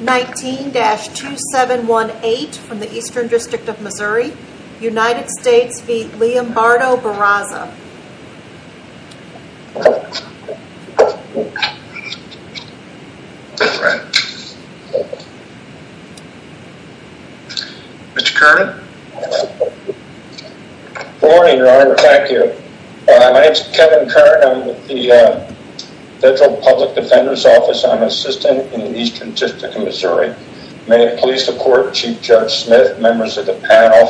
19-2718 from the Eastern District of Missouri, United States v. Leobardo Barraza Mr. Kernan Good morning, your honor. Thank you. My name is Kevin Kernan. I'm with the Federal Public Defender's Office. I'm an assistant in the Eastern District of Missouri. May it please the court, Chief Judge Smith, members of the panel,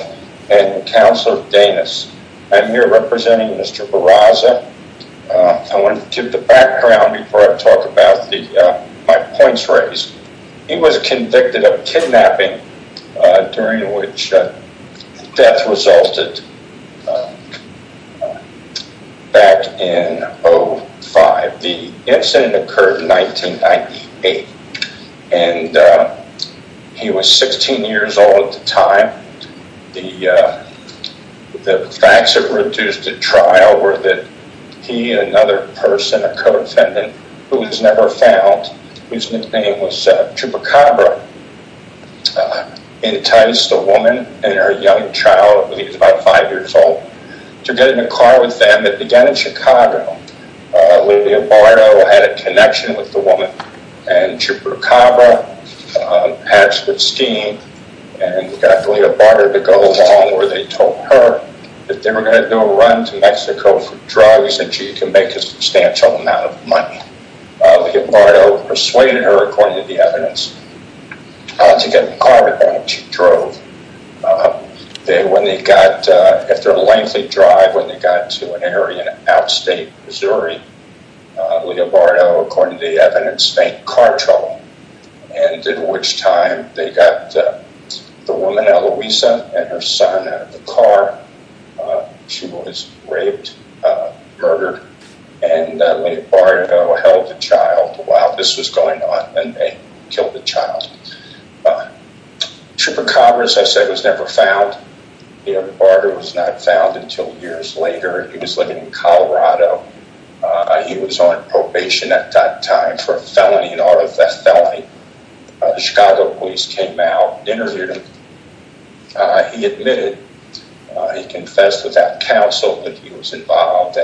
and Counselor Danis. I'm here representing Mr. Barraza. I want to give the background before I talk about my points raised. He was convicted of kidnapping during which death resulted back in 05. The incident occurred in 1998 and he was 16 years old at the time. The facts that reduced the trial were that he and another person, a co-defendant, who was never found, whose nickname was Chupacabra, enticed a woman and her young child, he was about 5 years old, to get in a car with them that began in Chicago. Leobardo had a connection with the woman and Chupacabra, perhaps with scheme, and got Leobardo to go along where they told her that they were going to do a run to Mexico for drugs and she could make a substantial amount of money. Leobardo persuaded her, according to the evidence, to get in a car with them and she drove. After a lengthy drive, when they got to an area in out-state Missouri, Leobardo, according to the evidence, faked car trouble, and at which time they got the woman, Eloisa, and her son out of the car. She was raped, murdered, and Leobardo held the child while this was going on and they killed the child. Chupacabra, as I said, was never found. Leobardo was not found until years later. He was living in Colorado. He was on probation at that time for a felony, an auto theft felony. The Chicago police came out and interviewed him. He admitted. He confessed without counsel that he was involved.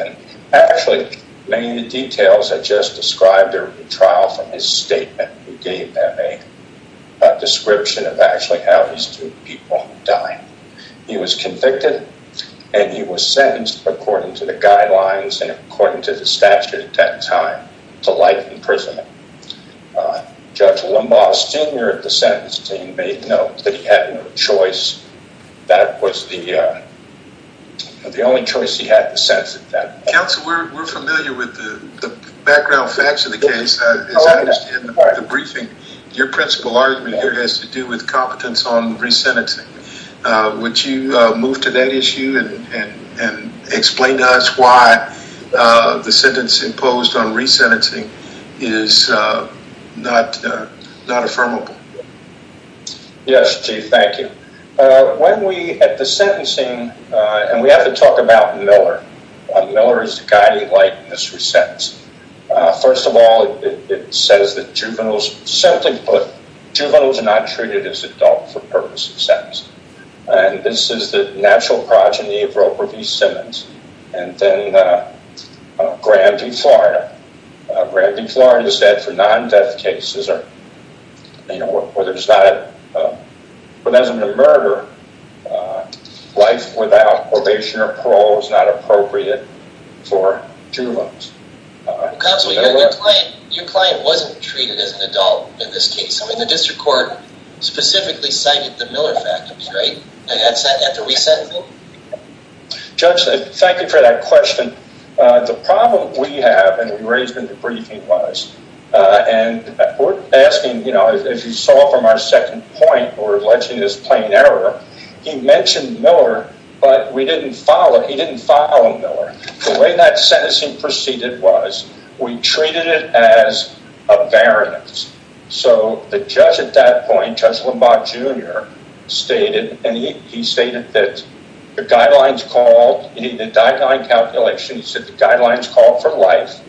Actually, many of the details I just described are from the trial from his statement. He gave them a description of actually how these two people died. He was convicted and he was sentenced, according to the guidelines and according to the statute at that time, to life imprisonment. Judge Limbaugh, Sr. of the sentence team made note that he had no choice. That was the only choice he had to set at that time. Counsel, we're familiar with the background facts of the case. As I understand the briefing, your principal argument here has to do with competence on resentencing. Would you move to that issue and explain to us why the sentence imposed on resentencing is not affirmable? Yes, Chief. Thank you. When we, at the sentencing, and we have to talk about Miller. Miller is the guiding light in this resentence. First of all, it says that juveniles, simply put, juveniles are not treated as adults for purposes of sentencing. This is the natural progeny of Roper V. Simmons. And then Gramby Florina. Gramby Florina said for non-death cases, or whether it's not a murder, life without probation or parole is not appropriate for juveniles. Counsel, your client wasn't treated as an adult in this case. I mean, the district court specifically cited the Miller fact, right? At the resentencing? Judge, thank you for that question. The problem we have, and we raised in the briefing, was, and we're asking, you know, as you saw from our second point, or alleging this plain error, he mentioned Miller, but we didn't follow, he didn't follow Miller. The way that sentencing proceeded was, we treated it as a variance. So, the judge at that point, Judge Limbaugh, Jr., stated, and he stated that the guidelines called, in the guideline calculation, he said the guidelines called for life,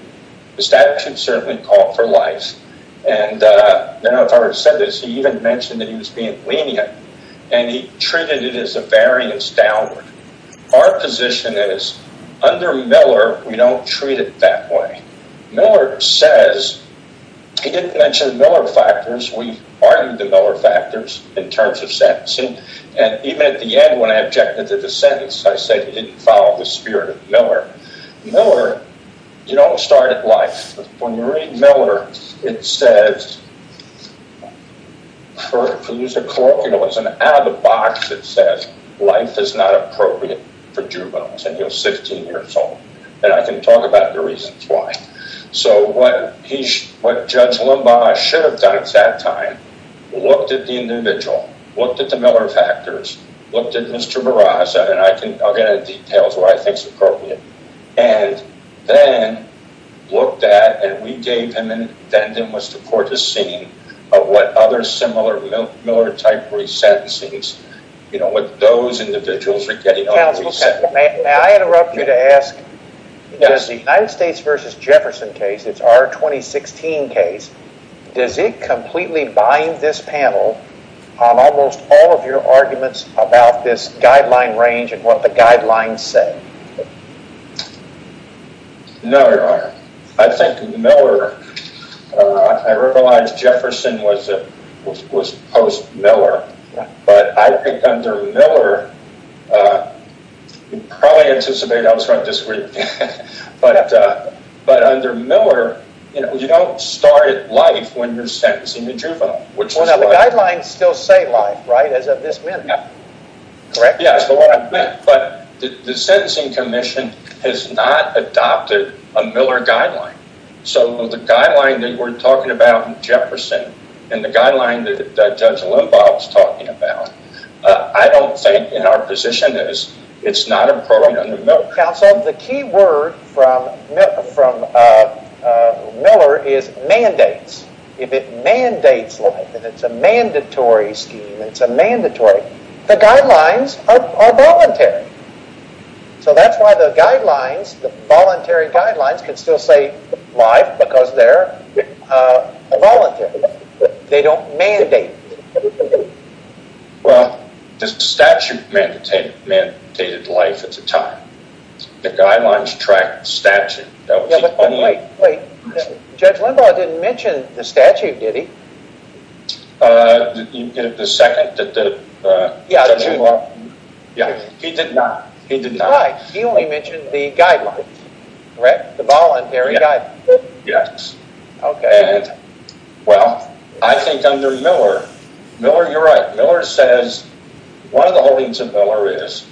the statute certainly called for life, and I don't know if I ever said this, he even mentioned that he was being lenient, and he treated it as a variance downward. Our position is, under Miller, we don't treat it that way. Miller says, he didn't mention the Miller factors, we argued the Miller factors in terms of sentencing, and even at the end, when I objected to the sentence, I said he didn't follow the spirit of Miller. Miller, you don't start at life. When you read Miller, it says, for the use of colloquialism, out of the box, it says, life is not appropriate for juveniles, and he was 16 years old. And I can talk about the reasons why. So, what Judge Limbaugh should have done at that time, looked at the individual, looked at the Miller factors, looked at Mr. Barraza, and I'll get into details of what I think is appropriate, and then looked at, and we gave him, and then there was the court to see, of what other similar Miller-type resentencings, you know, what those individuals were getting on resentment. May I interrupt you to ask, does the United States v. Jefferson case, it's our 2016 case, does it completely bind this panel on almost all of your arguments about this guideline range, and what the guidelines say? No, Your Honor. I think Miller, I realize Jefferson was post-Miller, but I think under Miller, you probably anticipate I was going to disagree, but under Miller, you know, you don't start at life when you're sentencing a juvenile. Well, now, the guidelines still say life, right, as of this minute, correct? Yeah, that's what I meant, but the sentencing commission has not adopted a Miller guideline, so the guideline that we're talking about in Jefferson, and the guideline that Judge Limbaugh was talking about, I don't think, in our position, it's not appropriate under Miller. Counsel, the key word from Miller is mandates. If it mandates life, and it's a mandatory scheme, it's a mandatory, the guidelines are voluntary. So that's why the guidelines, the voluntary guidelines, can still say life because they're voluntary. They don't mandate. Well, the statute mandated life at the time. The guidelines track the statute. Wait, Judge Limbaugh didn't mention the statute, did he? The second that Judge Limbaugh? Yeah, he did not. He only mentioned the guidelines, correct, the voluntary guidelines. Yes. Okay. Well, I think under Miller, Miller, you're right, Miller says one of the holdings of Miller is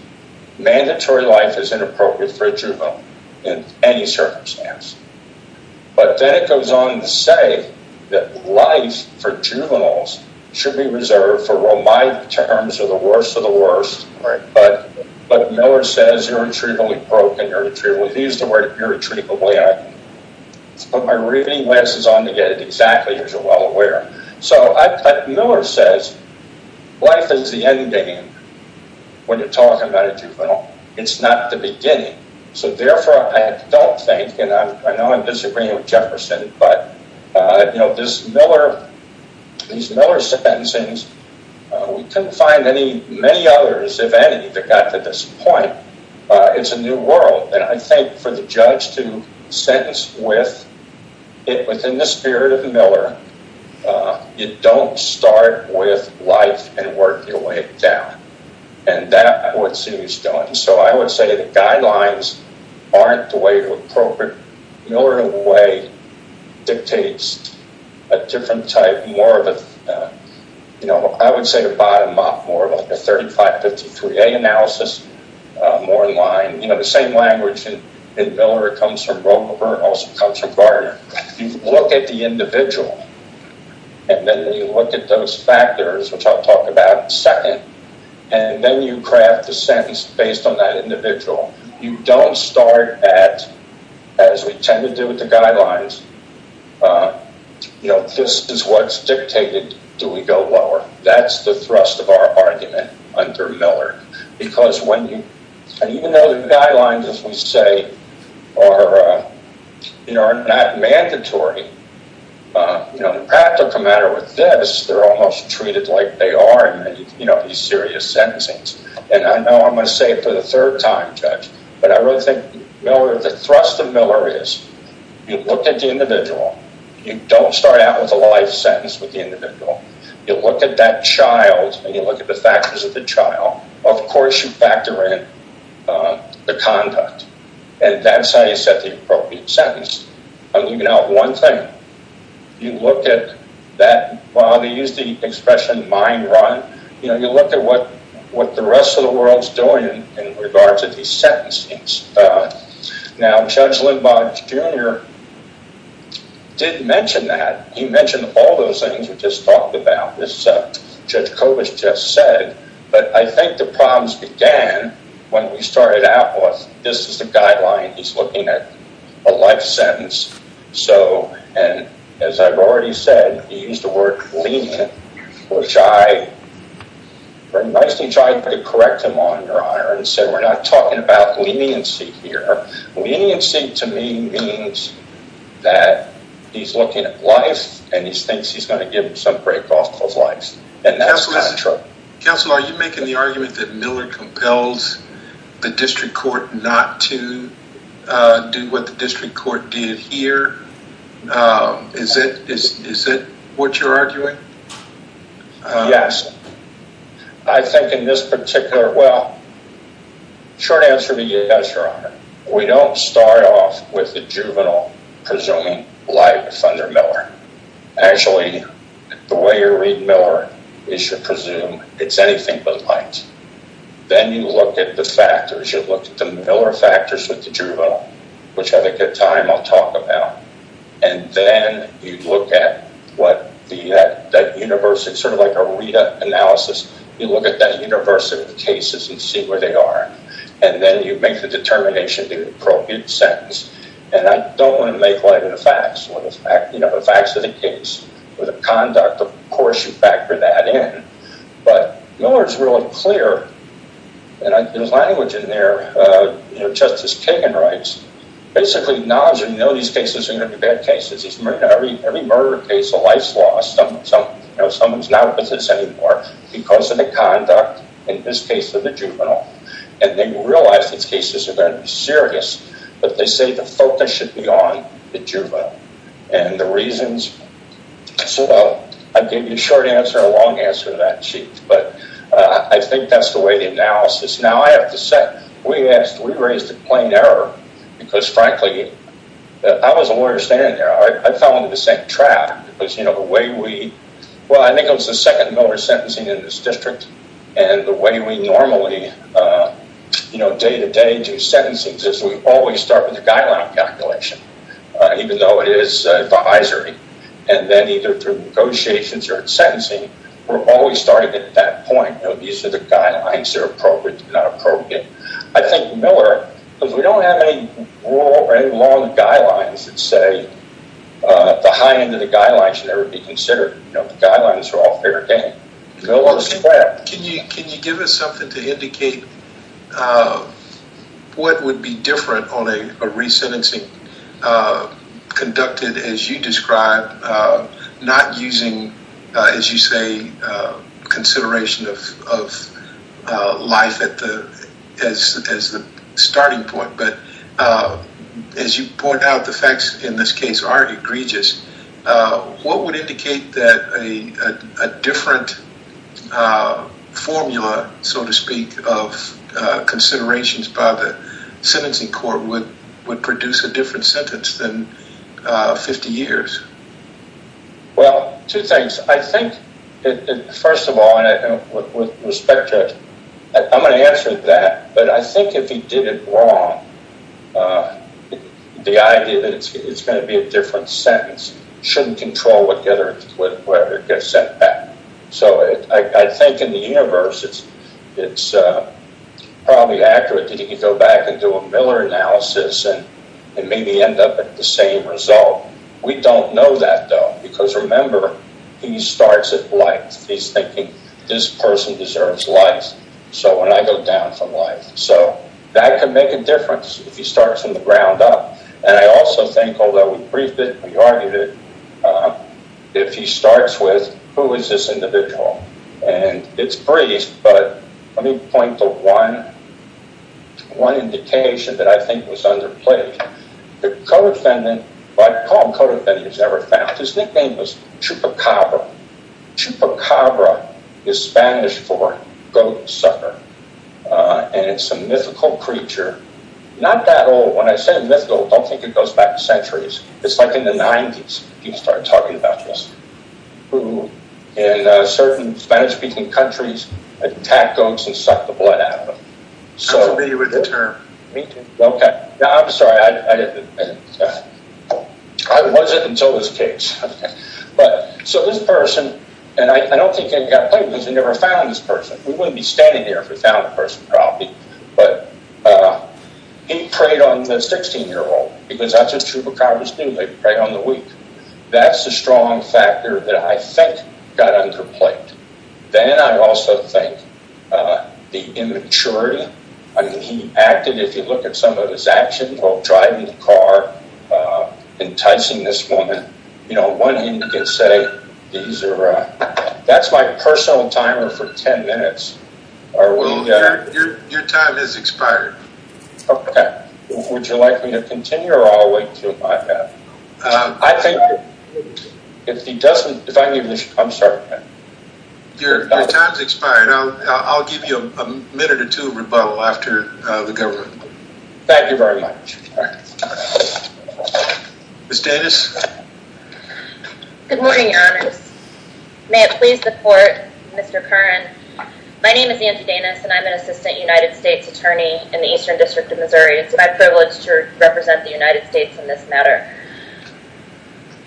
mandatory life is inappropriate for a juvenile in any circumstance. But then it goes on to say that life for juveniles should be reserved for, well, my terms are the worst of the worst. Right. But Miller says irretrievably broke and irretrievably, he used the word irretrievably. Let's put my reading glasses on to get it exactly as you're well aware. So Miller says life is the ending when you're talking about a juvenile. It's not the beginning. So therefore, I don't think, and I know I'm disagreeing with Jefferson, but, you know, this Miller, these Miller sentencings, we couldn't find any, many others, if any, that got to this point. It's a new world. And I think for the judge to sentence with it within the spirit of Miller, you don't start with life and work your way down. And that, I would assume, is done. So I would say the guidelines aren't the way to appropriate. Miller, in a way, dictates a different type, more of a, you know, I would say a bottom-up, more of a 3553A analysis, more in line. You know, the same language in Miller comes from Romer and also comes from Gardner. You look at the individual, and then you look at those factors, which I'll talk about in a second, and then you craft the sentence based on that individual. You don't start at, as we tend to do with the guidelines, you know, this is what's dictated. Do we go lower? That's the thrust of our argument under Miller. Because when you, and even though the guidelines, as we say, are not mandatory, you know, the practical matter with this, they're almost treated like they are in these serious sentencings. And I know I'm going to say it for the third time, Judge, but I really think Miller, the thrust of Miller is you look at the individual. You don't start out with a life sentence with the individual. You look at that child, and you look at the factors of the child. Of course, you factor in the conduct. And that's how you set the appropriate sentence. I'm leaving out one thing. You look at that, well, they use the expression mind run. You know, you look at what the rest of the world's doing in regards to these sentencings. Now, Judge Lindborg, Jr. did mention that. He mentioned all those things we just talked about. This is what Judge Kobisch just said. But I think the problems began when we started out with this is the guideline. He's looking at a life sentence. So, and as I've already said, he used the word lenient, which I very nicely tried to correct him on, Your Honor. And so we're not talking about leniency here. Leniency to me means that he's looking at life, and he thinks he's going to give some break off those lives. And that's not true. Counselor, are you making the argument that Miller compels the district court not to do what the district court did here? Is it what you're arguing? Yes. I think in this particular, well, short answer to you is yes, Your Honor. We don't start off with the juvenile presuming life under Miller. Actually, the way you read Miller is you presume it's anything but life. Then you look at the factors. You look at the Miller factors with the juvenile, which I think at time I'll talk about. And then you look at what that universal, sort of like a RETA analysis. You look at that universal of cases and see where they are. And then you make the determination of the appropriate sentence. And I don't want to make light of the facts. The facts of the case or the conduct, of course you factor that in. But Miller's really clear. And there's language in there. Justice Kagan writes, basically, now as you know, these cases are going to be bad cases. Every murder case, a life's lost. Someone's not with us anymore because of the conduct, in this case, of the juvenile. And then you realize these cases are going to be serious. But they say the focus should be on the juvenile. And the reasons, well, I gave you a short answer, a long answer to that sheet. But I think that's the way the analysis. We raised a plain error because, frankly, I was a lawyer standing there. I fell into the same trap. Well, I think it was the second Miller sentencing in this district. And the way we normally day-to-day do sentencing is we always start with a guideline calculation, even though it is advisory. And then either through negotiations or in sentencing, we're always starting at that point. These are the guidelines. They're appropriate. They're not appropriate. I think Miller, because we don't have any long guidelines that say the high end of the guidelines should ever be considered. The guidelines are all fair game. Miller's flat. Can you give us something to indicate what would be different on a resentencing conducted, as you described, not using, as you say, consideration of life as the starting point, but as you point out, the facts in this case are egregious. What would indicate that a different formula, so to speak, of considerations by the sentencing court would produce a different sentence than 50 years? Well, two things. First of all, I'm going to answer that. But I think if he did it wrong, the idea that it's going to be a different sentence shouldn't control whatever gets sent back. So I think in the universe, it's probably accurate that he could go back and do a Miller analysis and maybe end up at the same result. We don't know that, though, because remember, he starts at life. He's thinking, this person deserves life, so when I go down from life. So that could make a difference if he starts from the ground up. And I also think, although we briefed it, we argued it, if he starts with, who is this individual? And it's brief, but let me point to one indication that I think was underplayed. The co-defendant, I call him co-defendant he's ever found. His nickname was Chupacabra. Chupacabra is Spanish for goat sucker, and it's a mythical creature. Not that old. When I say mythical, I don't think it goes back centuries. It's like in the 90s. People started talking about this. In certain Spanish-speaking countries, attack goats and suck the blood out of them. I'm familiar with the term. Me too. Okay. Now, I'm sorry. I wasn't until this case. So this person, and I don't think it got played, because we never found this person. We wouldn't be standing here if we found the person, probably. But he preyed on the 16-year-old, because that's what Chupacabras do. They prey on the weak. That's a strong factor that I think got underplayed. Then I also think the immaturity. He acted, if you look at some of his actions, while driving the car, enticing this woman. On one hand, you could say, that's my personal timer for 10 minutes. Well, your time has expired. Okay. Would you like me to continue, or I'll wait until I have? I think if he doesn't, if I can give you a minute. I'm sorry. Your time's expired. I'll give you a minute or two of rebuttal after the government. Thank you very much. Ms. Danis? Good morning, your honors. May it please the court, Mr. Curran. My name is Nancy Danis, and I'm an assistant United States attorney in the Eastern District of Missouri. It's my privilege to represent the United States in this matter.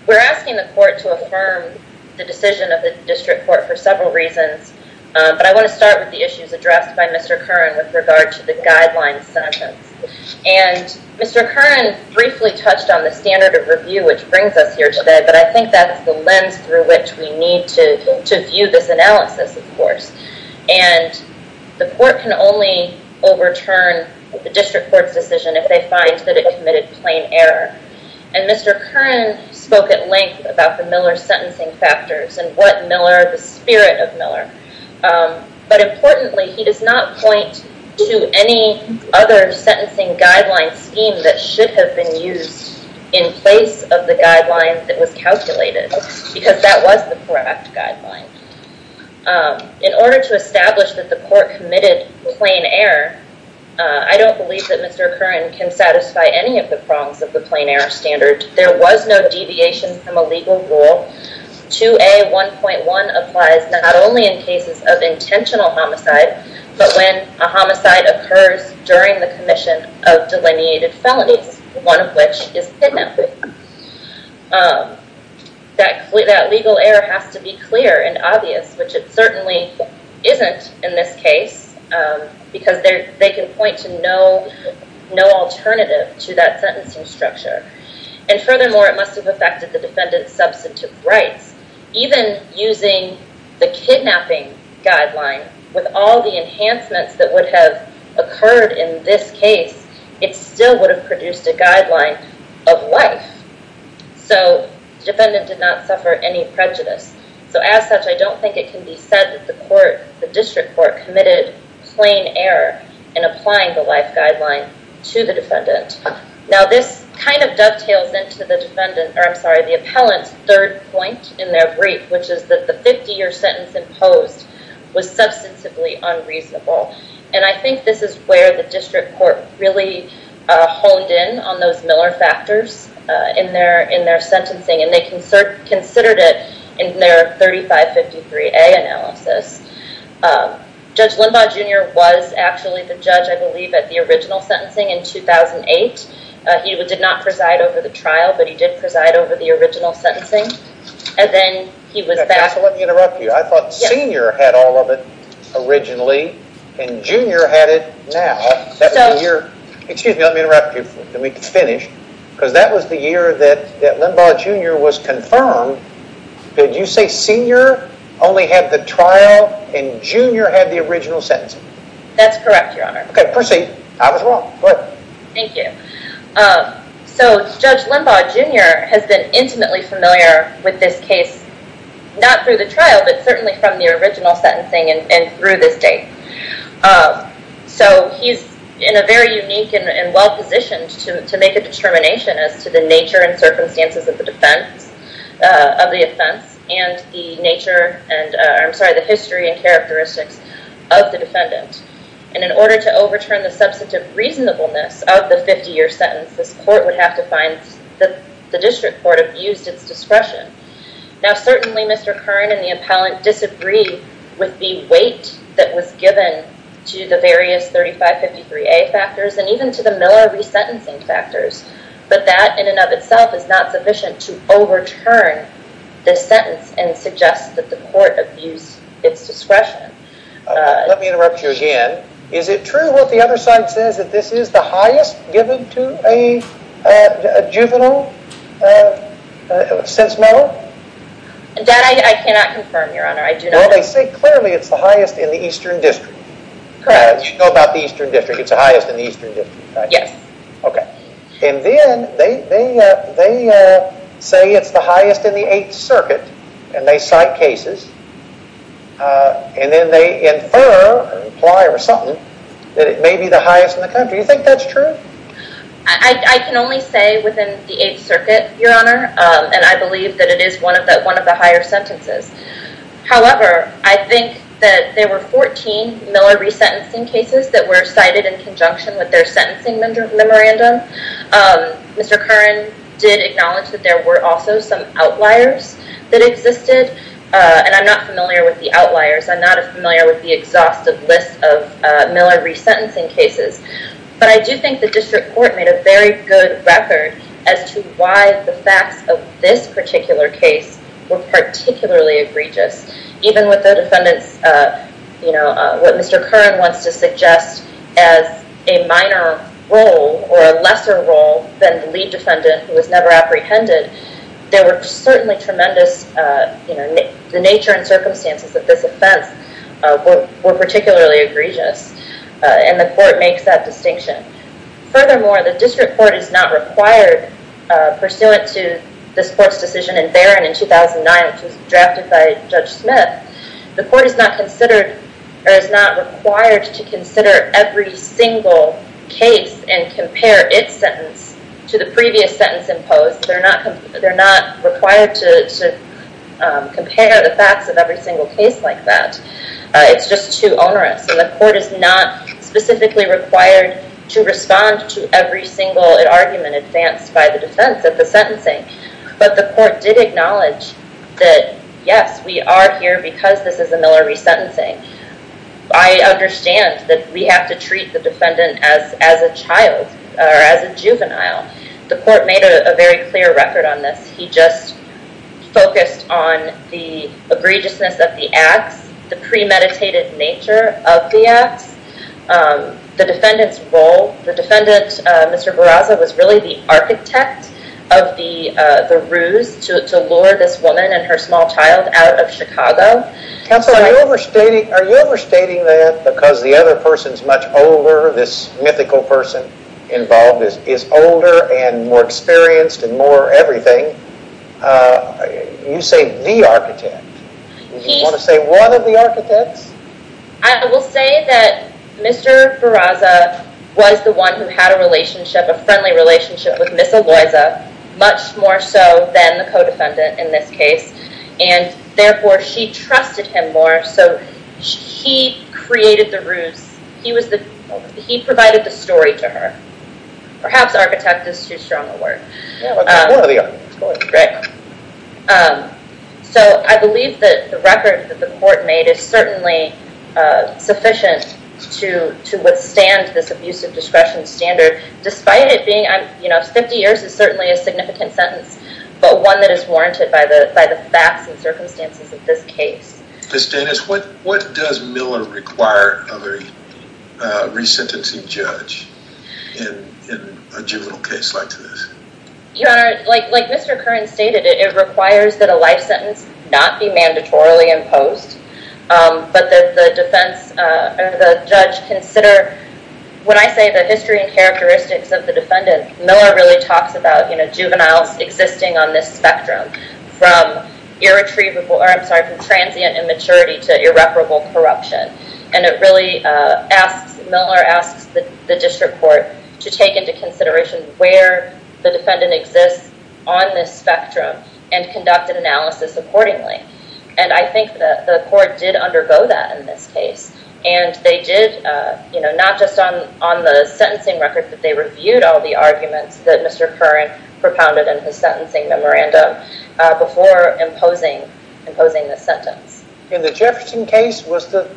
We're asking the court to affirm the decision of the district court for several reasons. I want to start with the issues addressed by Mr. Curran with regard to the guideline sentence. Mr. Curran briefly touched on the standard of review, which brings us here today, but I think that's the lens through which we need to view this analysis, of course. The court can only overturn the district court's decision if they find that it committed plain error. Mr. Curran spoke at length about the Miller sentencing factors and what Miller, the spirit of Miller. But importantly, he does not point to any other sentencing guideline scheme that should have been used in place of the guideline that was calculated, because that was the correct guideline. In order to establish that the court committed plain error, I don't believe that Mr. Curran can satisfy any of the prongs of the plain error standard. There was no deviation from a legal rule. 2A.1.1 applies not only in cases of intentional homicide, but when a homicide occurs during the commission of delineated felonies, one of which is kidnapping. That legal error has to be clear and obvious, which it certainly isn't in this case, because they can point to no alternative to that sentencing structure. And furthermore, it must have affected the defendant's substantive rights. Even using the kidnapping guideline, with all the enhancements that would have occurred in this case, it still would have produced a guideline of life. So the defendant did not suffer any prejudice. So as such, I don't think it can be said that the district court committed plain error in applying the life guideline to the defendant. Now, this kind of dovetails into the appellant's third point in their brief, which is that the 50-year sentence imposed was substantively unreasonable. And I think this is where the district court really honed in on those Miller factors in their sentencing, and they considered it in their 3553A analysis. Judge Limbaugh, Jr. was actually the judge, I believe, at the original sentencing in 2008. He did not preside over the trial, but he did preside over the original sentencing. And then he was back. Let me interrupt you. I thought Senior had all of it originally, and Junior had it now. Excuse me, let me finish. Because that was the year that Limbaugh, Jr. was confirmed. Did you say Senior only had the trial, and Junior had the original sentencing? That's correct, Your Honor. Okay, proceed. I was wrong. Go ahead. Thank you. So Judge Limbaugh, Jr. has been intimately familiar with this case, not through the trial, but certainly from the original sentencing and through this date. So he's in a very unique and well-positioned to make a determination as to the nature and circumstances of the offense, and the history and characteristics of the defendant. And in order to overturn the substantive reasonableness of the 50-year sentence, this court would have to find that the district court abused its discretion. Now certainly Mr. Kern and the appellant disagree with the weight that was given to the various 3553A factors, and even to the Miller resentencing factors. But that in and of itself is not sufficient to overturn this sentence and suggest that the court abused its discretion. Let me interrupt you again. Is it true what the other side says, that this is the highest given to a juvenile since Miller? That I cannot confirm, Your Honor. I do not know. Well, they say clearly it's the highest in the Eastern District. Correct. You know about the Eastern District. It's the highest in the Eastern District, right? Yes. Okay. And then they say it's the highest in the Eighth Circuit, and they cite cases. And then they infer or imply or something that it may be the highest in the country. Do you think that's true? I can only say within the Eighth Circuit, Your Honor. And I believe that it is one of the higher sentences. However, I think that there were 14 Miller resentencing cases that were cited in conjunction with their sentencing memorandum. Mr. Kern did acknowledge that there were also some outliers that existed. And I'm not familiar with the outliers. I'm not familiar with the exhaustive list of Miller resentencing cases. But I do think the District Court made a very good record as to why the facts of this particular case were particularly egregious. Even with the defendants, you know, what Mr. Kern wants to suggest as a minor role or a lesser role than the lead defendant who was never apprehended, there were certainly tremendous, you know, the nature and circumstances of this offense were particularly egregious. And the Court makes that distinction. Furthermore, the District Court is not required, pursuant to this Court's decision in Barron in 2009, which was drafted by Judge Smith, the Court is not considered or is not required to consider every single case and compare its sentence to the previous sentence imposed. They're not required to compare the facts of every single case like that. It's just too onerous. And the Court is not specifically required to respond to every single argument advanced by the defense at the sentencing. But the Court did acknowledge that, yes, we are here because this is a Miller resentencing. I understand that we have to treat the defendant as a child or as a juvenile. The Court made a very clear record on this. He just focused on the egregiousness of the acts, the premeditated nature of the acts, the defendant's role. The defendant, Mr. Barraza, was really the architect of the ruse to lure this woman and her small child out of Chicago. Are you overstating that because the other person's much older, this mythical person involved is older and more experienced and more everything? You say the architect. Do you want to say one of the architects? I will say that Mr. Barraza was the one who had a relationship, a friendly relationship with Ms. Aloiza, much more so than the co-defendant in this case, and therefore she trusted him more, so he created the ruse. He provided the story to her. Perhaps architect is too strong a word. One of the architects, go ahead. I believe that the record that the Court made is certainly sufficient to withstand this abusive discretion standard, despite it being 50 years is certainly a significant sentence, but one that is warranted by the facts and circumstances of this case. Ms. Davis, what does Miller require of a resentencing judge in a juvenile case like this? Your Honor, like Mr. Curran stated, it requires that a life sentence not be mandatorily imposed, but that the defense or the judge consider, when I say the history and characteristics of the defendant, Miller really talks about juveniles existing on this spectrum from transient immaturity to irreparable corruption, and it really asks, Miller asks the District Court to take into consideration where the defendant exists on this spectrum and conduct an analysis accordingly, and I think the Court did undergo that in this case, and they did, not just on the sentencing record, but they reviewed all the arguments that Mr. Curran propounded in his sentencing memorandum, before imposing this sentence. In the Jefferson case,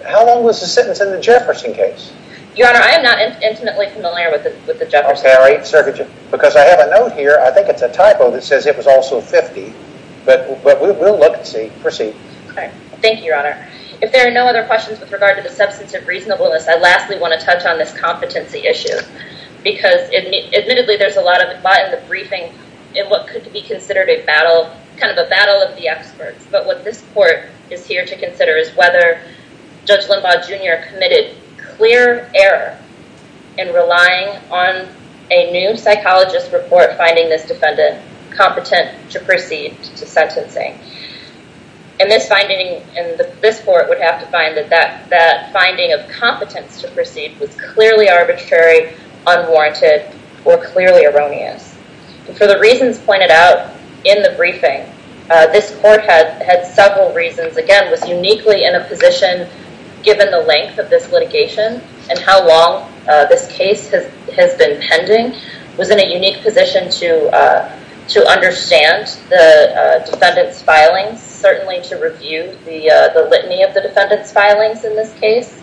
how long was the sentence in the Jefferson case? Your Honor, I am not intimately familiar with the Jefferson case. Because I have a note here, I think it's a typo that says it was also 50, but we'll look and see. Proceed. Thank you, Your Honor. If there are no other questions with regard to the substance of reasonableness, I lastly want to touch on this competency issue, because admittedly there's a lot in the briefing in what could be considered a battle, kind of a battle of the experts, but what this Court is here to consider is whether Judge Limbaugh, Jr. committed clear error in relying on a new psychologist report finding this defendant competent to proceed to sentencing. And this finding, and this Court would have to find that that finding of competence to proceed was clearly arbitrary, unwarranted, or clearly erroneous. And for the reasons pointed out in the briefing, this Court had several reasons. Again, was uniquely in a position, given the length of this litigation, and how long this case has been pending, was in a unique position to understand the defendant's filings, certainly to review the litany of the defendant's filings in this case,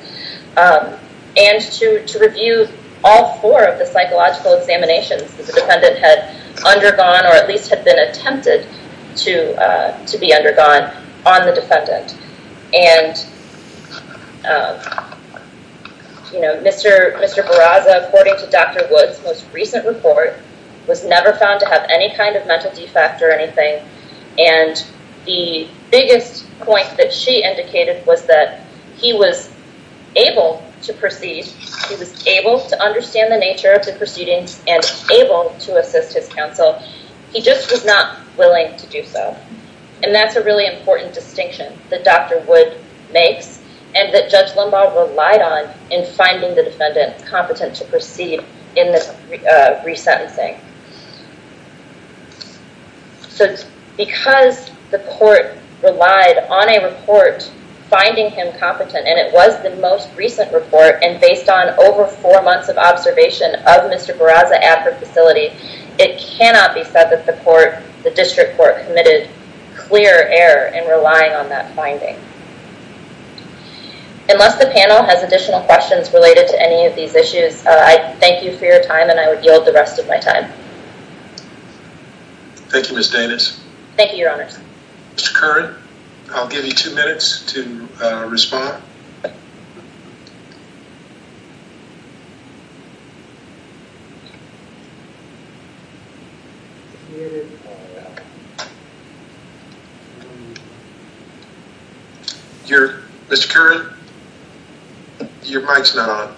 and to review all four of the psychological examinations that the defendant had undergone, or at least had been attempted to be undergone on the defendant. Mr. Barraza, according to Dr. Woods' most recent report, was never found to have any kind of mental defect or anything, and the biggest point that she indicated was that he was able to proceed, he was able to understand the nature of the proceedings, and able to assist his counsel. He just was not willing to do so. And that's a really important distinction that Dr. Woods makes, and that Judge Lumbaugh relied on in finding the defendant competent to proceed in this resentencing. Because the court relied on a report finding him competent, and it was the most recent report, and based on over four months of observation of Mr. Barraza at her facility, it cannot be said that the district court committed clear error in relying on that finding. Unless the panel has additional questions related to any of these issues, I thank you for your time, and I would yield the rest of my time. Thank you, Ms. Danis. Thank you, Your Honor. Mr. Curran, I'll give you two minutes to respond. Mr. Curran, your mic's not on.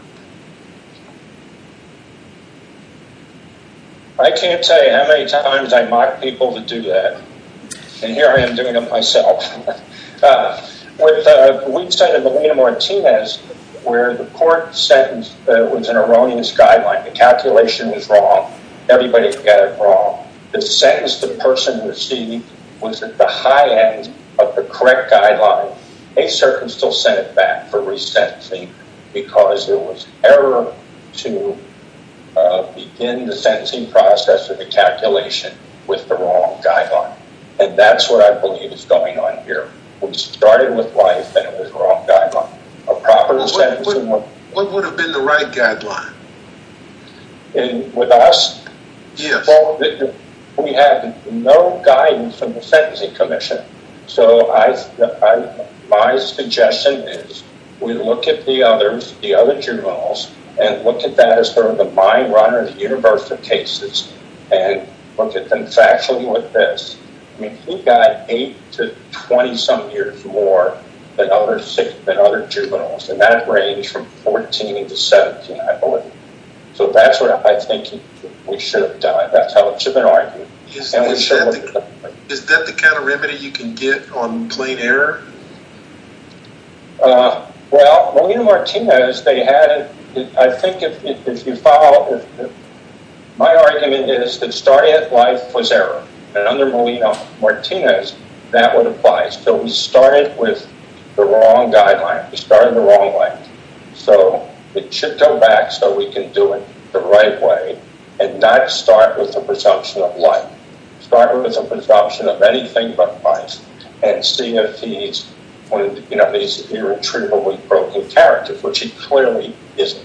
I can't tell you how many times I've mocked people to do that, and here I am doing it myself. With the weak sentence of Melina Martinez, where the court sentence was an erroneous guideline. The calculation was wrong. Everybody got it wrong. The sentence the person received was at the high end of the correct guideline. They certainly still sent it back for resentencing because there was error to begin the sentencing process or the calculation with the wrong guideline, and that's what I believe is going on here. We started with life, and it was the wrong guideline. A proper sentencing would- What would have been the right guideline? With us? Yes. We had no guidance from the Sentencing Commission, so my suggestion is we look at the other juveniles and look at that as sort of the mind-runner in the universe of cases and look at them factually with this. He got 8 to 20-some years more than other juveniles, and that ranged from 14 to 17, I believe. So that's what I think we should have done. That's how it should have been argued. Is that the kind of remedy you can get on plain error? Well, Molina-Martinez, they had- I think if you follow- My argument is that starting at life was error, and under Molina-Martinez, that would apply. So we started with the wrong guideline. We started the wrong way. So it should go back so we can do it the right way and not start with the presumption of life. Start with the presumption of anything but life and see if he's one of these irretrievably broken characters, which he clearly isn't.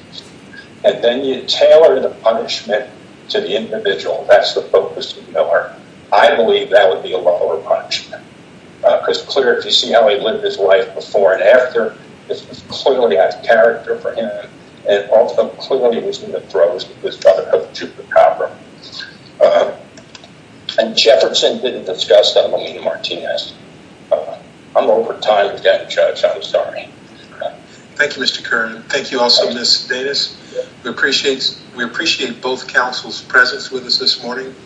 And then you tailor the punishment to the individual. That's the focus of Miller. I believe that would be a lower punishment, because, clearly, if you see how he lived his life before and after, this was clearly out of character for him, and also, clearly, it was in the throes of his brother, Hector Chupacabra. And Jefferson didn't discuss that with Molina-Martinez. I'm over time again, Judge. I'm sorry. Thank you, Mr. Kern. Thank you also, Ms. Davis. We appreciate both counsel's presence with us this morning.